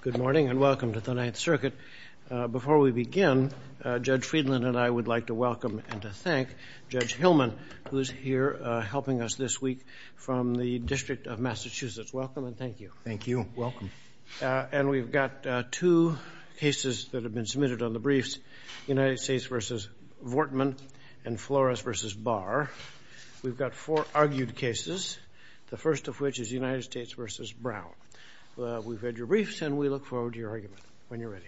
Good morning and welcome to the Ninth Circuit. Before we begin, Judge Friedland and I would like to welcome and to thank Judge Hillman who is here helping us this week from the District of Massachusetts. Welcome and thank you. Thank you. Welcome. And we've got two cases that have been submitted on the briefs, United States v. Vortman and Flores v. Barr. We've got four briefs, and we look forward to your argument when you're ready.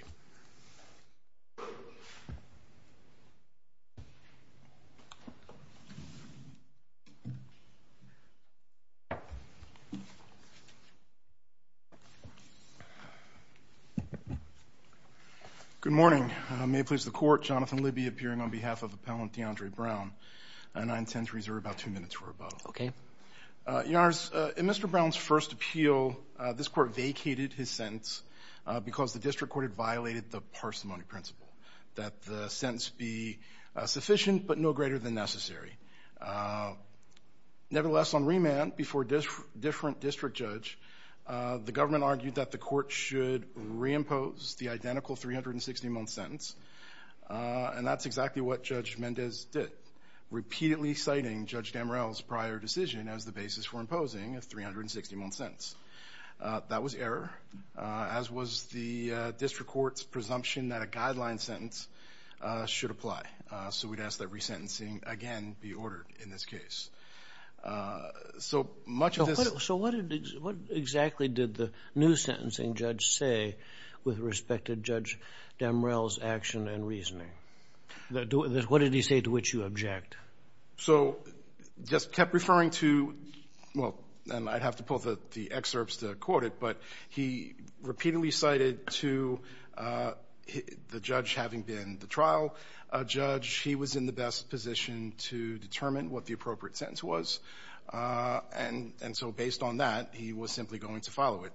Good morning. May it please the Court, Jonathan Libby appearing on behalf of Appellant Deandre Brown, and I intend to reserve about two minutes for rebuttal. Okay. Your Honors, in Mr. Brown's first appeal, this Court vacated his sentence because the district court had violated the parsimony principle, that the sentence be sufficient, but no greater than necessary. Nevertheless, on remand before a different district judge, the government argued that the Court should reimpose the identical 360-month sentence, and that's exactly what Judge Mendez did, repeatedly citing Judge Damrell's prior decision as the basis for imposing a 360-month sentence. That was error, as was the district court's presumption that a guideline sentence should apply. So we'd ask that resentencing again be ordered in this case. So much of this... So what exactly did the new sentencing judge say with respect to Judge Damrell's action and reasoning? What did he say to which you object? So, just kept referring to, well, and I'd have to pull the excerpts to quote it, but he repeatedly cited to the judge having been the trial judge, he was in the best position to determine what the appropriate sentence was. And so based on that, he was simply going to follow it.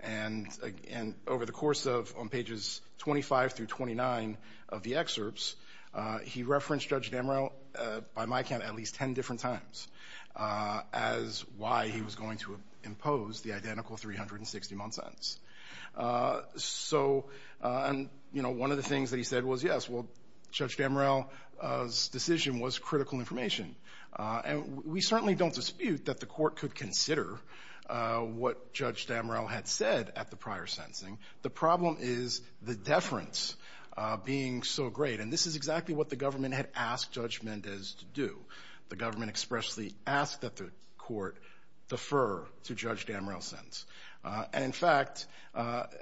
And over the course of, on pages 25 through 29 of the by my count, at least 10 different times, as why he was going to impose the identical 360-month sentence. So, and, you know, one of the things that he said was, yes, well, Judge Damrell's decision was critical information. And we certainly don't dispute that the Court could consider what Judge Damrell had said at the prior sentencing. The problem is the deference being so great. And this is what the Court chose to do. The government expressly asked that the Court defer to Judge Damrell's sentence. And in fact,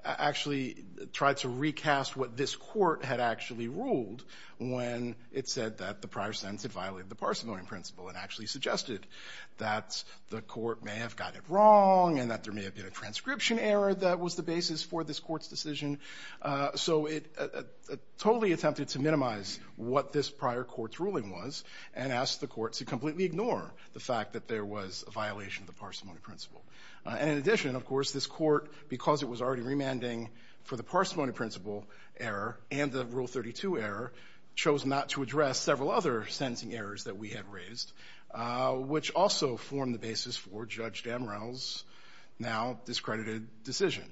actually tried to recast what this Court had actually ruled when it said that the prior sentence had violated the Parsevalian principle and actually suggested that the Court may have got it wrong and that there may have been a transcription error that was the basis for this Court's decision. So it totally attempted to minimize what this prior Court's ruling was and asked the Court to completely ignore the fact that there was a violation of the Parsevalian principle. And in addition, of course, this Court, because it was already remanding for the Parsevalian principle error and the Rule 32 error, chose not to address several other sentencing errors that we had raised, which also formed the basis for Judge Damrell's now-discredited decision,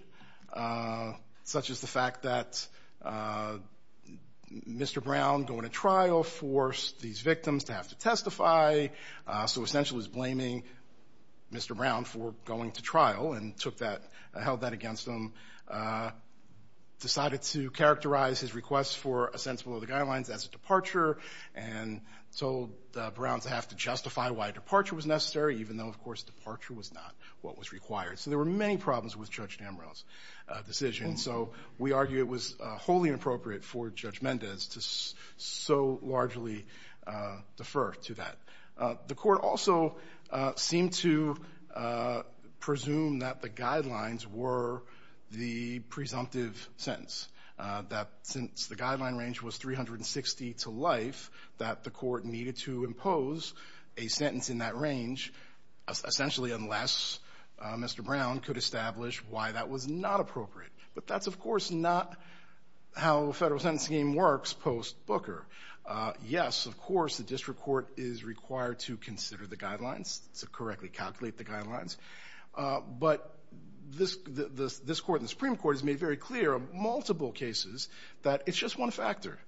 such as the fact that Mr. Brown going to trial for the Parsevalian principle error forced these victims to have to testify. So essentially, it was blaming Mr. Brown for going to trial and took that, held that against him. Decided to characterize his request for a sentence below the guidelines as a departure and told Brown to have to justify why a departure was necessary, even though, of course, departure was not what was required. So there were many problems with Judge Damrell's decision. So we argue it was wholly inappropriate for Judge Brown to actually defer to that. The Court also seemed to presume that the guidelines were the presumptive sentence, that since the guideline range was 360 to life, that the Court needed to impose a sentence in that range, essentially unless Mr. Brown could establish why that was not appropriate. But that's, of course, not how a federal sentence scheme works post-Booker. Yes, of course, the District Court is required to consider the guidelines, to correctly calculate the guidelines, but this Court and the Supreme Court has made very clear on multiple cases that it's just one factor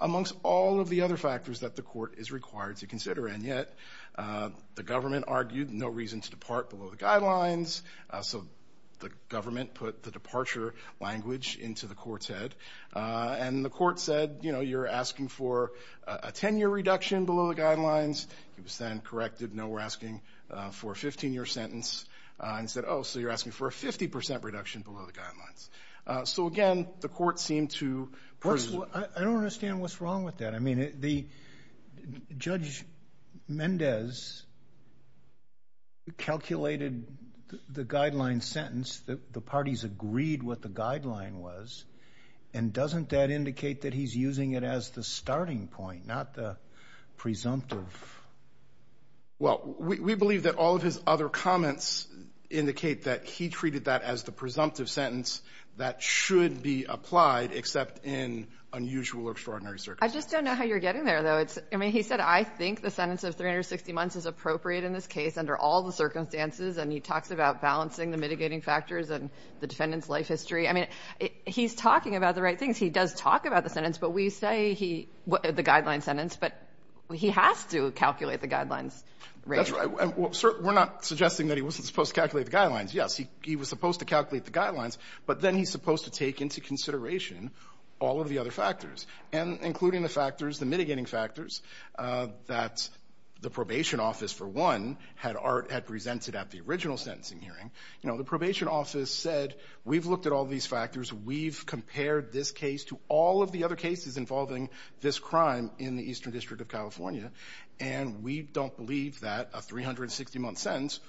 amongst all of the other factors that the Court is required to consider. And yet, the government argued no reason to depart below the guidelines, so the government put the departure language into the Court's head. And the Court said, you know, you're asking for a 10-year reduction below the guidelines. He was then corrected, no, we're asking for a 15-year sentence, and said, oh, so you're asking for a 50% reduction below the guidelines. So again, the Court seemed to presume... I don't understand what's wrong with that. I mean, Judge Mendez calculated the guideline sentence, the parties agreed what the guideline was, and doesn't that indicate that he's using it as the starting point, not the presumptive... Well, we believe that all of his other comments indicate that he treated that as the presumptive sentence that should be applied, except in unusual or extraordinary circumstances. I just don't know how you're getting there, though. I mean, he said, I think the sentence of 360 months is appropriate in this case under all the circumstances, and he talks about balancing the mitigating factors and the defendant's life history. I mean, he's talking about the right things. He does talk about the sentence, but we say he... the guideline sentence, but he has to calculate the guidelines rate. That's right. We're not suggesting that he wasn't supposed to calculate the guidelines. Yes, he was supposed to calculate the guidelines, but then he's supposed to take into consideration all of the other factors, including the factors, the mitigating factors that the defendant had presented at the original sentencing hearing. You know, the probation office said, we've looked at all these factors. We've compared this case to all of the other cases involving this crime in the Eastern District of California, and we don't believe that a 360-month sentence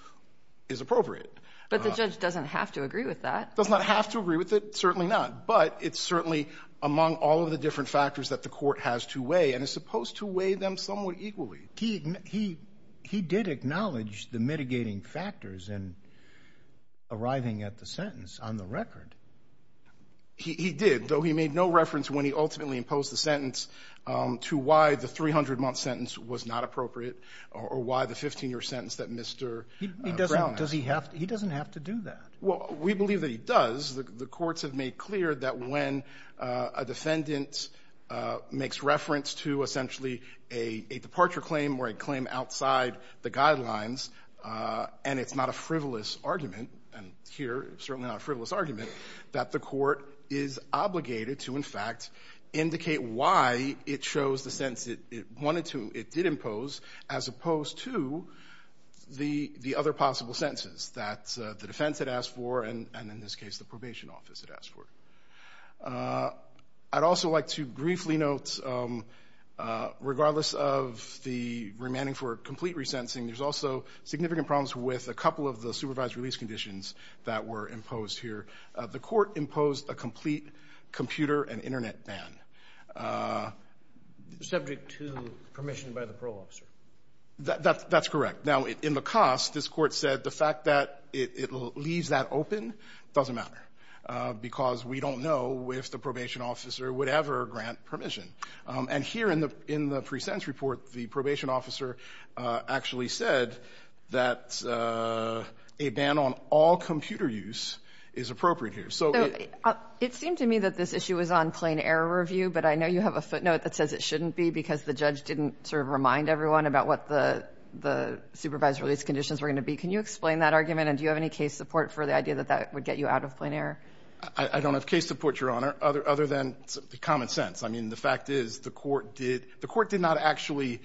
is appropriate. But the judge doesn't have to agree with that. Doesn't have to agree with it. Certainly not. But it's certainly among all of the different factors that the Court has to weigh, and it's supposed to weigh them somewhat equally. He did acknowledge the mitigating factors in arriving at the sentence on the record. He did, though he made no reference when he ultimately imposed the sentence to why the 300-month sentence was not appropriate or why the 15-year sentence that Mr. Brown had. He doesn't have to do that. Well, we believe that he does. The courts have made clear that when a defendant makes reference to essentially a departure claim or a claim outside the guidelines, and it's not a frivolous argument, and here, certainly not a frivolous argument, that the Court is obligated to, in fact, indicate why it chose the sentence it wanted to, it did impose, as opposed to the other possible sentences that the defense had asked for and, in this case, the probation office had asked for. I'd also like to briefly note, regardless of the remanding for complete resentencing, there's also significant problems with a couple of the supervised release conditions that were imposed here. The Court imposed a complete computer and Internet ban. Subject to permission by the parole officer. That's correct. Now, in the cost, this Court said the fact that it leaves that open doesn't matter because we don't know if the probation officer would ever grant permission. And here in the pre-sentence report, the probation officer actually said that a ban on all computer use is appropriate here. So it seems to me that this issue was on plain-error review, but I know you have a footnote that says it shouldn't be because the judge didn't sort of remind everyone about what the supervised release conditions were going to be. Can you explain that argument and do you have any case support for the idea that that would get you out of plain-error? I don't have case support, Your Honor, other than common sense. I mean, the fact is, the Court did not actually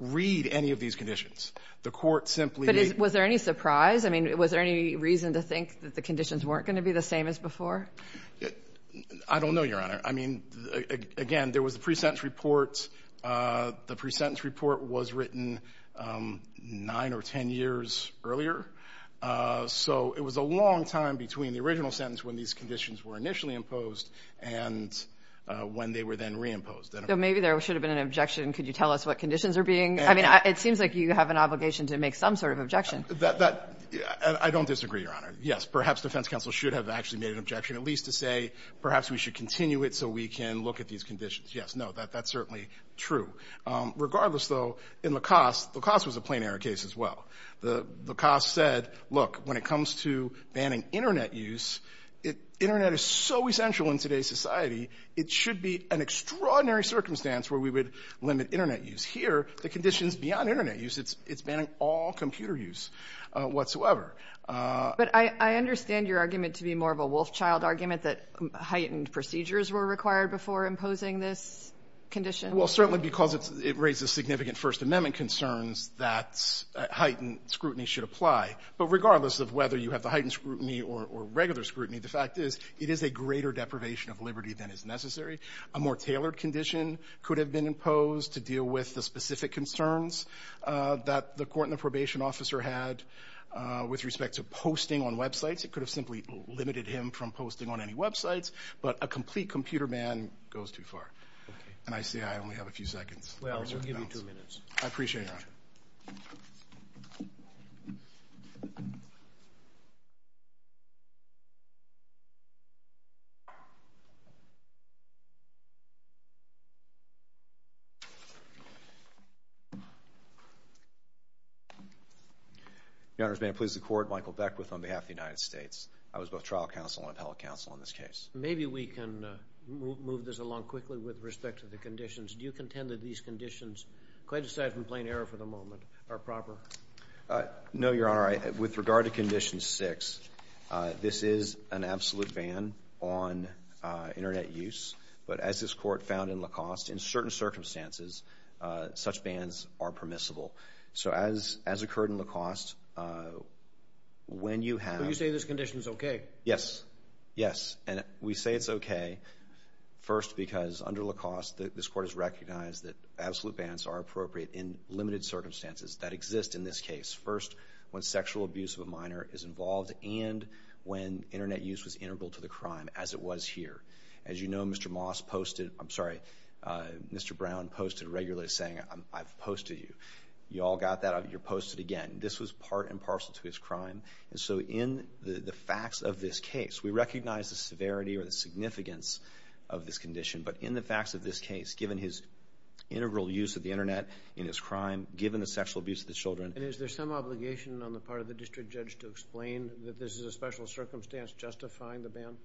read any of these conditions. The Court simply did. But was there any surprise? I mean, was there any reason to think that the conditions weren't going to be the same as before? I don't know, Your Honor. I mean, again, there was a pre-sentence report. The pre-sentence report was written nine or ten years earlier. So it was a long time between the original sentence when these conditions were initially imposed and when they were then reimposed. So maybe there should have been an objection. Could you tell us what conditions are being? I mean, it seems like you have an obligation to make some sort of objection. That I don't disagree, Your Honor. Yes, perhaps defense counsel should have actually made an objection, at least to say perhaps we should continue it so we can look at these conditions. Yes, no, that's certainly true. Regardless, though, in LaCoste, LaCoste was a plain error case as well. LaCoste said, look, when it comes to banning Internet use, Internet is so essential in today's society. It should be an extraordinary circumstance where we would limit Internet use. Here, the conditions beyond Internet use, it's banning all computer use whatsoever. But I understand your argument to be more of a Wolfchild argument that heightened procedures were required before imposing this condition. Well, certainly because it raises significant First Amendment concerns that heightened scrutiny should apply. But regardless of whether you have the heightened scrutiny or regular scrutiny, the fact is it is a greater deprivation of liberty than is necessary. A more tailored condition could have been imposed to deal with the specific concerns that the court and the probation officer had with respect to posting on websites. It could have simply limited him from posting on any websites, but a complete computer man goes too far. And I see I only have a few seconds. Well, I'll give you two minutes. I appreciate it. Your Honor, may I please accord Michael Beckwith on behalf of the United States. I was both trial counsel and appellate counsel in this case. Maybe we can move this along quickly with respect to the conditions. Do you contend that these conditions, quite aside from plain error for the moment, are proper? No, Your Honor. With regard to Condition 6, this is an absolute ban on Internet use. But as this court found in Lacoste, in certain circumstances, such bans are permissible. So as occurred in Lacoste, when you have... So you say this condition is okay? Yes. Yes. And we say it's okay, first, because under Lacoste, this court has recognized that absolute bans are appropriate in limited circumstances that exist in this case. First, when sexual abuse of a minor is involved and when Internet use was integral to the crime, as it was here. As you know, Mr. Moss posted... I'm sorry, Mr. Brown posted regularly saying, I've posted you. You all got that? You're posted again. This was part and parcel to his crime. And so in the facts of this case, we recognize the severity or the significance of this condition. But in the facts of this case, given his integral use of the Internet in his crime, given the sexual abuse of the children... And is there some obligation on the part of the district judge to explain that this is a special circumstance justifying the ban?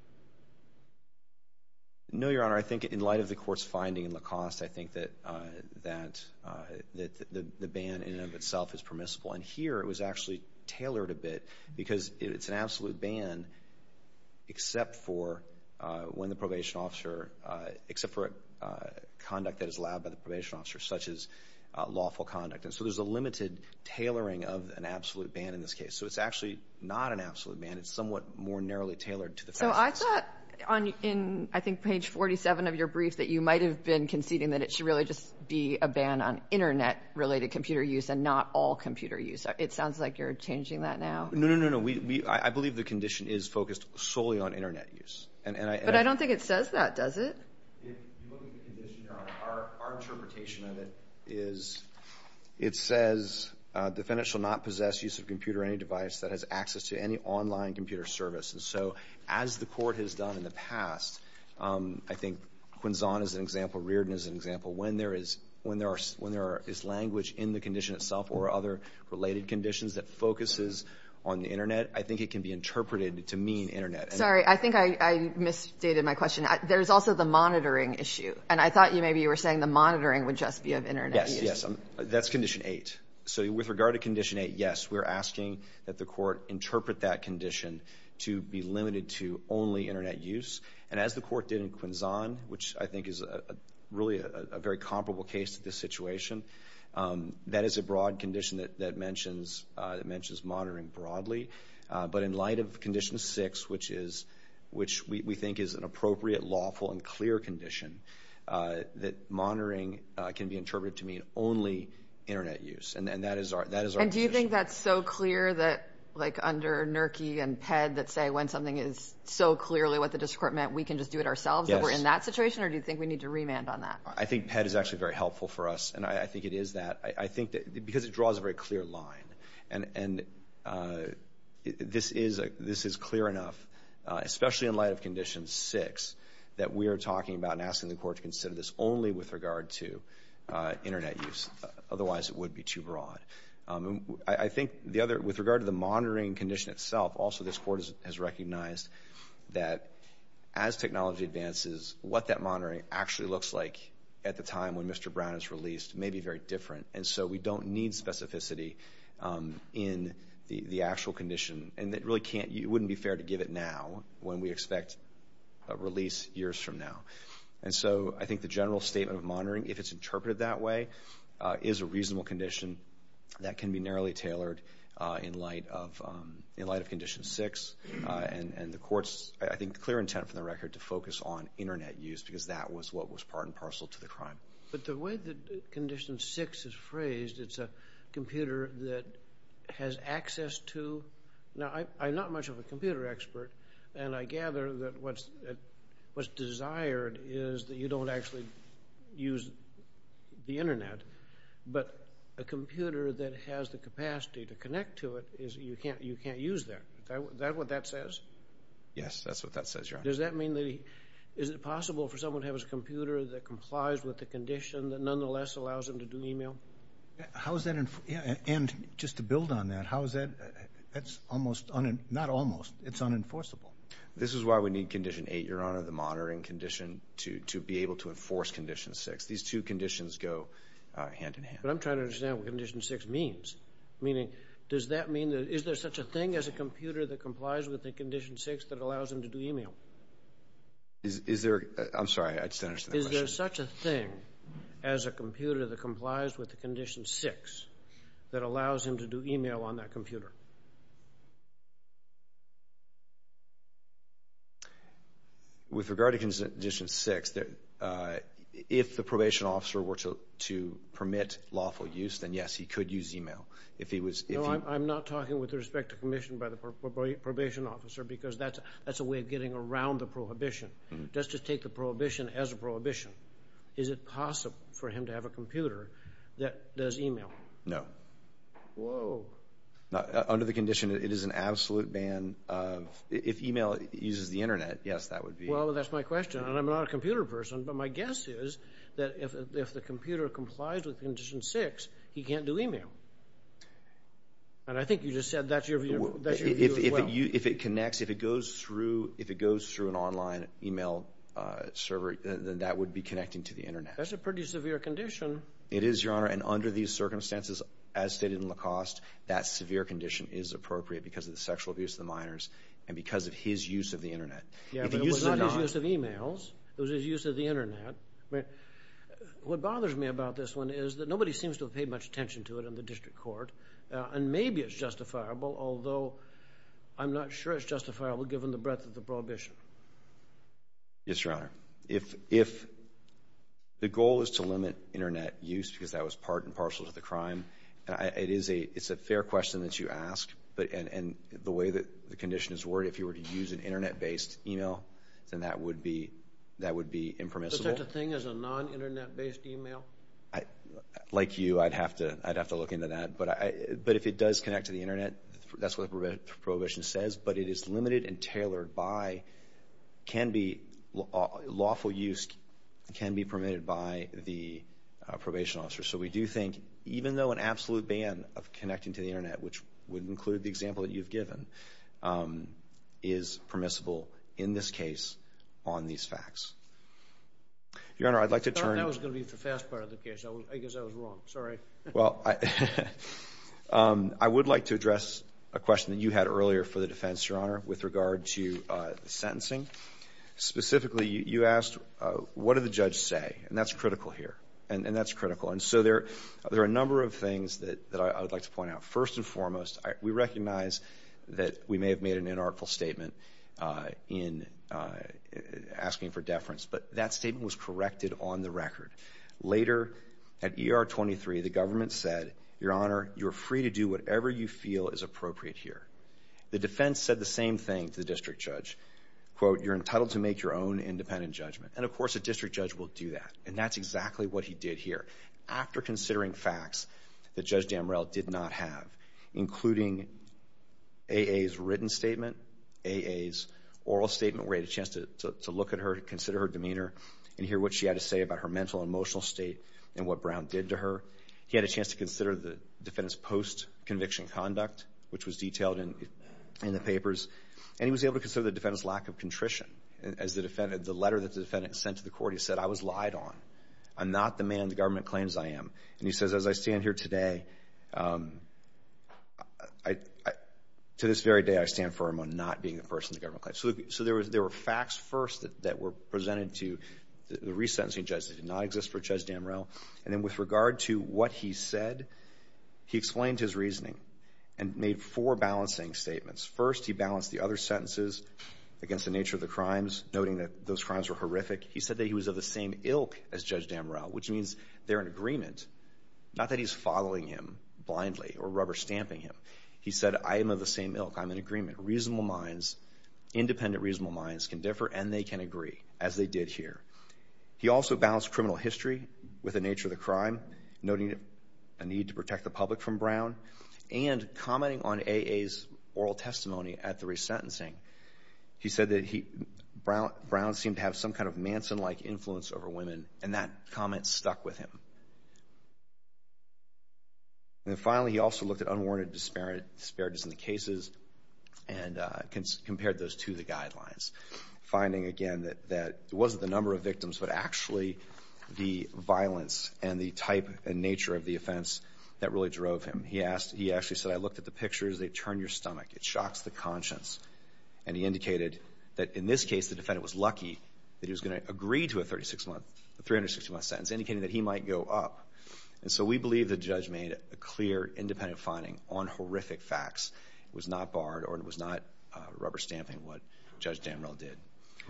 No, Your Honor. I think in light of the court's finding in Lacoste, I think that the ban in and of itself is permissible. And here, it was actually tailored a bit because it's an absolute ban except for when the probation officer... except for conduct that is allowed by the probation officer, such as lawful conduct. And so there's a limited tailoring of an absolute ban in this case. So it's actually not an absolute ban. It's somewhat more narrowly tailored to the facts. No, I thought in, I think, page 47 of your brief that you might have been conceding that it should really just be a ban on Internet-related computer use and not all computer use. It sounds like you're changing that now. No, no, no, no. I believe the condition is focused solely on Internet use. But I don't think it says that, does it? If you look at the condition, Your Honor, our interpretation of it is it says the defendant shall not possess use of a computer or any device that has access to any online computer service. And so, as the court has done in the past, I think Quinzon is an example, Reardon is an example. When there is language in the condition itself or other related conditions that focuses on the Internet, I think it can be interpreted to mean Internet. Sorry, I think I misstated my question. There's also the monitoring issue. And I thought maybe you were saying the monitoring would just be of Internet use. Yes, yes, that's Condition 8. So with regard to Condition 8, yes, we're asking that the court interpret that condition to be limited to only Internet use. And as the court did in Quinzon, which I think is really a very comparable case to this situation, that is a broad condition that mentions monitoring broadly. But in light of Condition 6, which we think is an appropriate, lawful, and clear condition, that monitoring can be interpreted to mean only Internet use. And that is our position. And do you think that's so clear that, like under Nerke and Pedd, that say when something is so clearly what the district court meant, we can just do it ourselves if we're in that situation? Or do you think we need to remand on that? I think Pedd is actually very helpful for us. And I think it is that. I think that because it draws a very clear line. And this is clear enough, especially in light of Condition 6, that we are talking about and asking the court to consider this only with regard to Internet use. Otherwise, it would be too broad. I think with regard to the monitoring condition itself, also this court has recognized that as technology advances, what that monitoring actually looks like at the time when Mr. Brown is released may be very different. And so we don't need specificity in the actual condition. And it really can't, it wouldn't be fair to give it now when we expect a release years from now. And so I think the general statement of monitoring, if it's interpreted that way, is a reasonable condition that can be narrowly tailored in light of Condition 6. And the court's, I think, clear intent from the record to focus on Internet use because that was what was part and parcel to the crime. But the way that Condition 6 is phrased, it's a computer that has access to, now I'm not much of a computer expert. And I gather that what's desired is that you don't actually use the Internet. But a computer that has the capacity to connect to it is, you can't use that. Is that what that says? Yes, that's what that says, Your Honor. Does that mean that, is it possible for someone to have a computer that complies with the condition that nonetheless allows them to do email? How is that, and just to build on that, how is that, that's almost, not almost, it's unenforceable. This is why we need Condition 8, Your Honor, the monitoring condition to be able to enforce Condition 6. These two conditions go hand in hand. But I'm trying to understand what Condition 6 means. Meaning, does that mean that, is there such a thing as a computer that complies with Condition 6 that allows them to do email? Is there, I'm sorry, I just didn't understand the question. Is there such a thing as a computer that complies with the Condition 6 that allows them to do email on that computer? With regard to Condition 6, if the probation officer were to permit lawful use, then yes, he could use email. No, I'm not talking with respect to permission by the probation officer, because that's a way of getting around the prohibition. Let's just take the prohibition as a prohibition. Is it possible for him to have a computer that does email? No. Whoa. Under the condition, it is an absolute ban of, if email uses the internet, yes, that would be. Well, that's my question, and I'm not a computer person, but my guess is that if the computer complies with Condition 6, he can't do email. And I think you just said that's your view as well. If it connects, if it goes through an online email server, then that would be connecting to the internet. That's a pretty severe condition. It is, Your Honor, and under these circumstances, as stated in Lacoste, that severe condition is appropriate because of the sexual abuse of the minors and because of his use of the internet. Yeah, but it was not his use of emails. It was his use of the internet. I mean, what bothers me about this one is that nobody seems to have paid much attention to it in the district court, and maybe it's justifiable, although I'm not sure it's justifiable given the breadth of the prohibition. Yes, Your Honor. If the goal is to limit internet use because that was part and parcel to the crime, it's a fair question that you ask, and the way that the condition is worded, if you were to use an internet-based email, then that would be impermissible. Is it such a thing as a non-internet-based email? Like you, I'd have to look into that, but if it does connect to the internet, that's what the prohibition says, but it is limited and tailored by, can be, lawful use can be permitted by the probation officer. So we do think, even though an absolute ban of connecting to the internet, which would include the example that you've given, is permissible in this case on these facts. Your Honor, I'd like to turn... I thought that was going to be the fast part of the case. I guess I was wrong. Sorry. Well, I would like to address a question that you had earlier for the defense, Your Honor, with regard to the sentencing. Specifically, you asked, what did the judge say? And that's critical here, and that's critical. And so there are a number of things that I would like to point out. First and foremost, we recognize that we may have made an inartful statement in asking for deference, but that statement was corrected on the record. Later, at ER 23, the government said, Your Honor, you're free to do whatever you feel is appropriate here. The defense said the same thing to the district judge. Quote, you're entitled to make your own independent judgment. And of course, a district judge will do that. And that's exactly what he did here. After considering facts that Judge Damrell did not have, including A.A.'s written statement, A.A.'s oral statement, where he had a chance to look at her, consider her demeanor, and hear what she had to say about her mental and emotional state and what Brown did to her. He had a chance to consider the defendant's post-conviction conduct, which was detailed in the papers. And he was able to consider the defendant's lack of contrition. As the letter that the defendant sent to the court, he said, I was lied on. I'm not the man the government claims I am. And he says, as I stand here today, to this very day, I stand firm on not being the person the government claims. So there were facts first that were presented to the resentencing judge that did not exist for Judge Damrell. And then with regard to what he said, he explained his reasoning and made four balancing statements. First, he balanced the other sentences against the nature of the crimes, noting that those crimes were horrific. He said that he was of the same ilk as Judge Damrell, which means they're in agreement. Not that he's following him blindly or rubber stamping him. He said, I am of the same ilk. I'm in agreement. Reasonable minds, independent reasonable minds, can differ and they can agree, as they did here. He also balanced criminal history with the nature of the crime, noting a need to protect the public from Brown, and commenting on A.A.'s oral testimony at the resentencing. He said that Brown seemed to have some kind of Manson-like influence over women, and that comment stuck with him. And finally, he also looked at unwarranted disparities in the cases and compared those to the guidelines, finding, again, that it wasn't the number of victims, but actually the violence and the type and nature of the offense that really drove him. He actually said, I looked at the pictures. They turn your stomach. It shocks the conscience. And he indicated that, in this case, the defendant was lucky that he was going to agree to a 36-month, a 360-month sentence, indicating that he might go up. And so we believe the judge made a clear, independent finding on horrific facts. It was not barred or it was not rubber stamping what Judge Damrell did.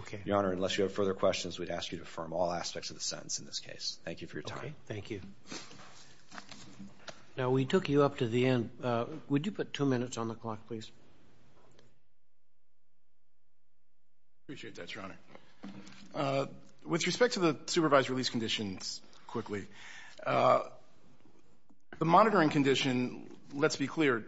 Okay. Your Honor, unless you have further questions, we'd ask you to affirm all aspects of the sentence in this case. Thank you for your time. Okay. Thank you. Now, we took you up to the end. Would you put two minutes on the clock, please? I appreciate that, Your Honor. With respect to the supervised release conditions, quickly, the monitoring condition, let's be clear.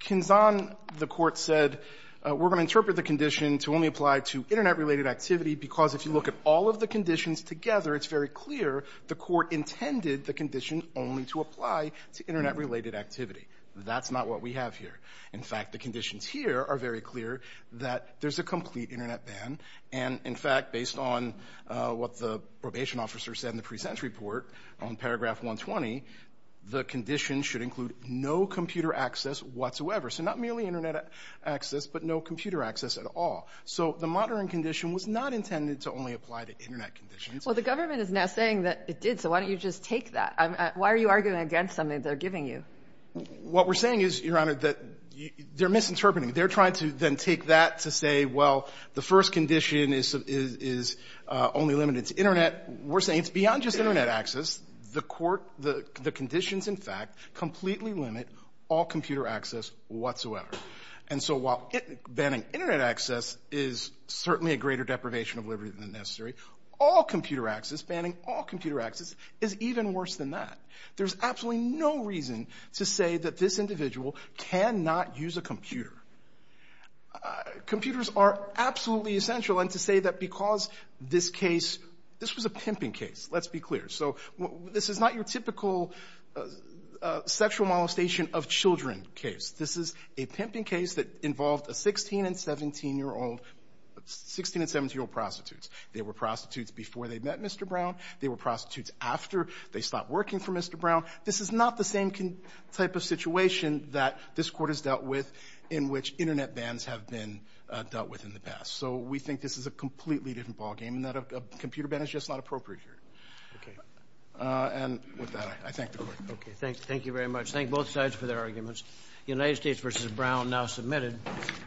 Kinzon, the Court said, we're going to interpret the condition to only apply to Internet-related activity because if you look at all of the conditions together, it's very clear the Court intended the condition only to apply to Internet-related activity. That's not what we have here. In fact, the conditions here are very clear that there's a complete Internet ban. And in fact, based on what the probation officer said in the present report on paragraph 120, the condition should include no computer access whatsoever. So not merely Internet access, but no computer access at all. So the monitoring condition was not intended to only apply to Internet conditions. Well, the government is now saying that it did, so why don't you just take that? Why are you arguing against something they're giving you? What we're saying is, Your Honor, that they're misinterpreting. They're trying to then take that to say, well, the first condition is only limited to Internet. We're saying it's beyond just Internet access. The Court, the conditions, in fact, completely limit all computer access whatsoever. And so while banning Internet access is certainly a greater deprivation of liberty than necessary, all computer access, banning all computer access, is even worse than that. There's absolutely no reason to say that this individual cannot use a computer. Computers are absolutely essential, and to say that because this case, this was a pimping case, let's be clear. So this is not your typical sexual molestation of children case. This is a pimping case that involved a 16- and 17-year-old, 16- and 17-year-old prostitutes. They were prostitutes before they met Mr. Brown. They were prostitutes after they stopped working for Mr. Brown. This is not the same type of situation that this Court has dealt with in which Internet bans have been dealt with in the past. So we think this is a completely different ballgame in that a computer ban is just not appropriate here. And with that, I thank the Court. Okay, thank you very much. Thank both sides for their arguments. United States v. Brown now submitted.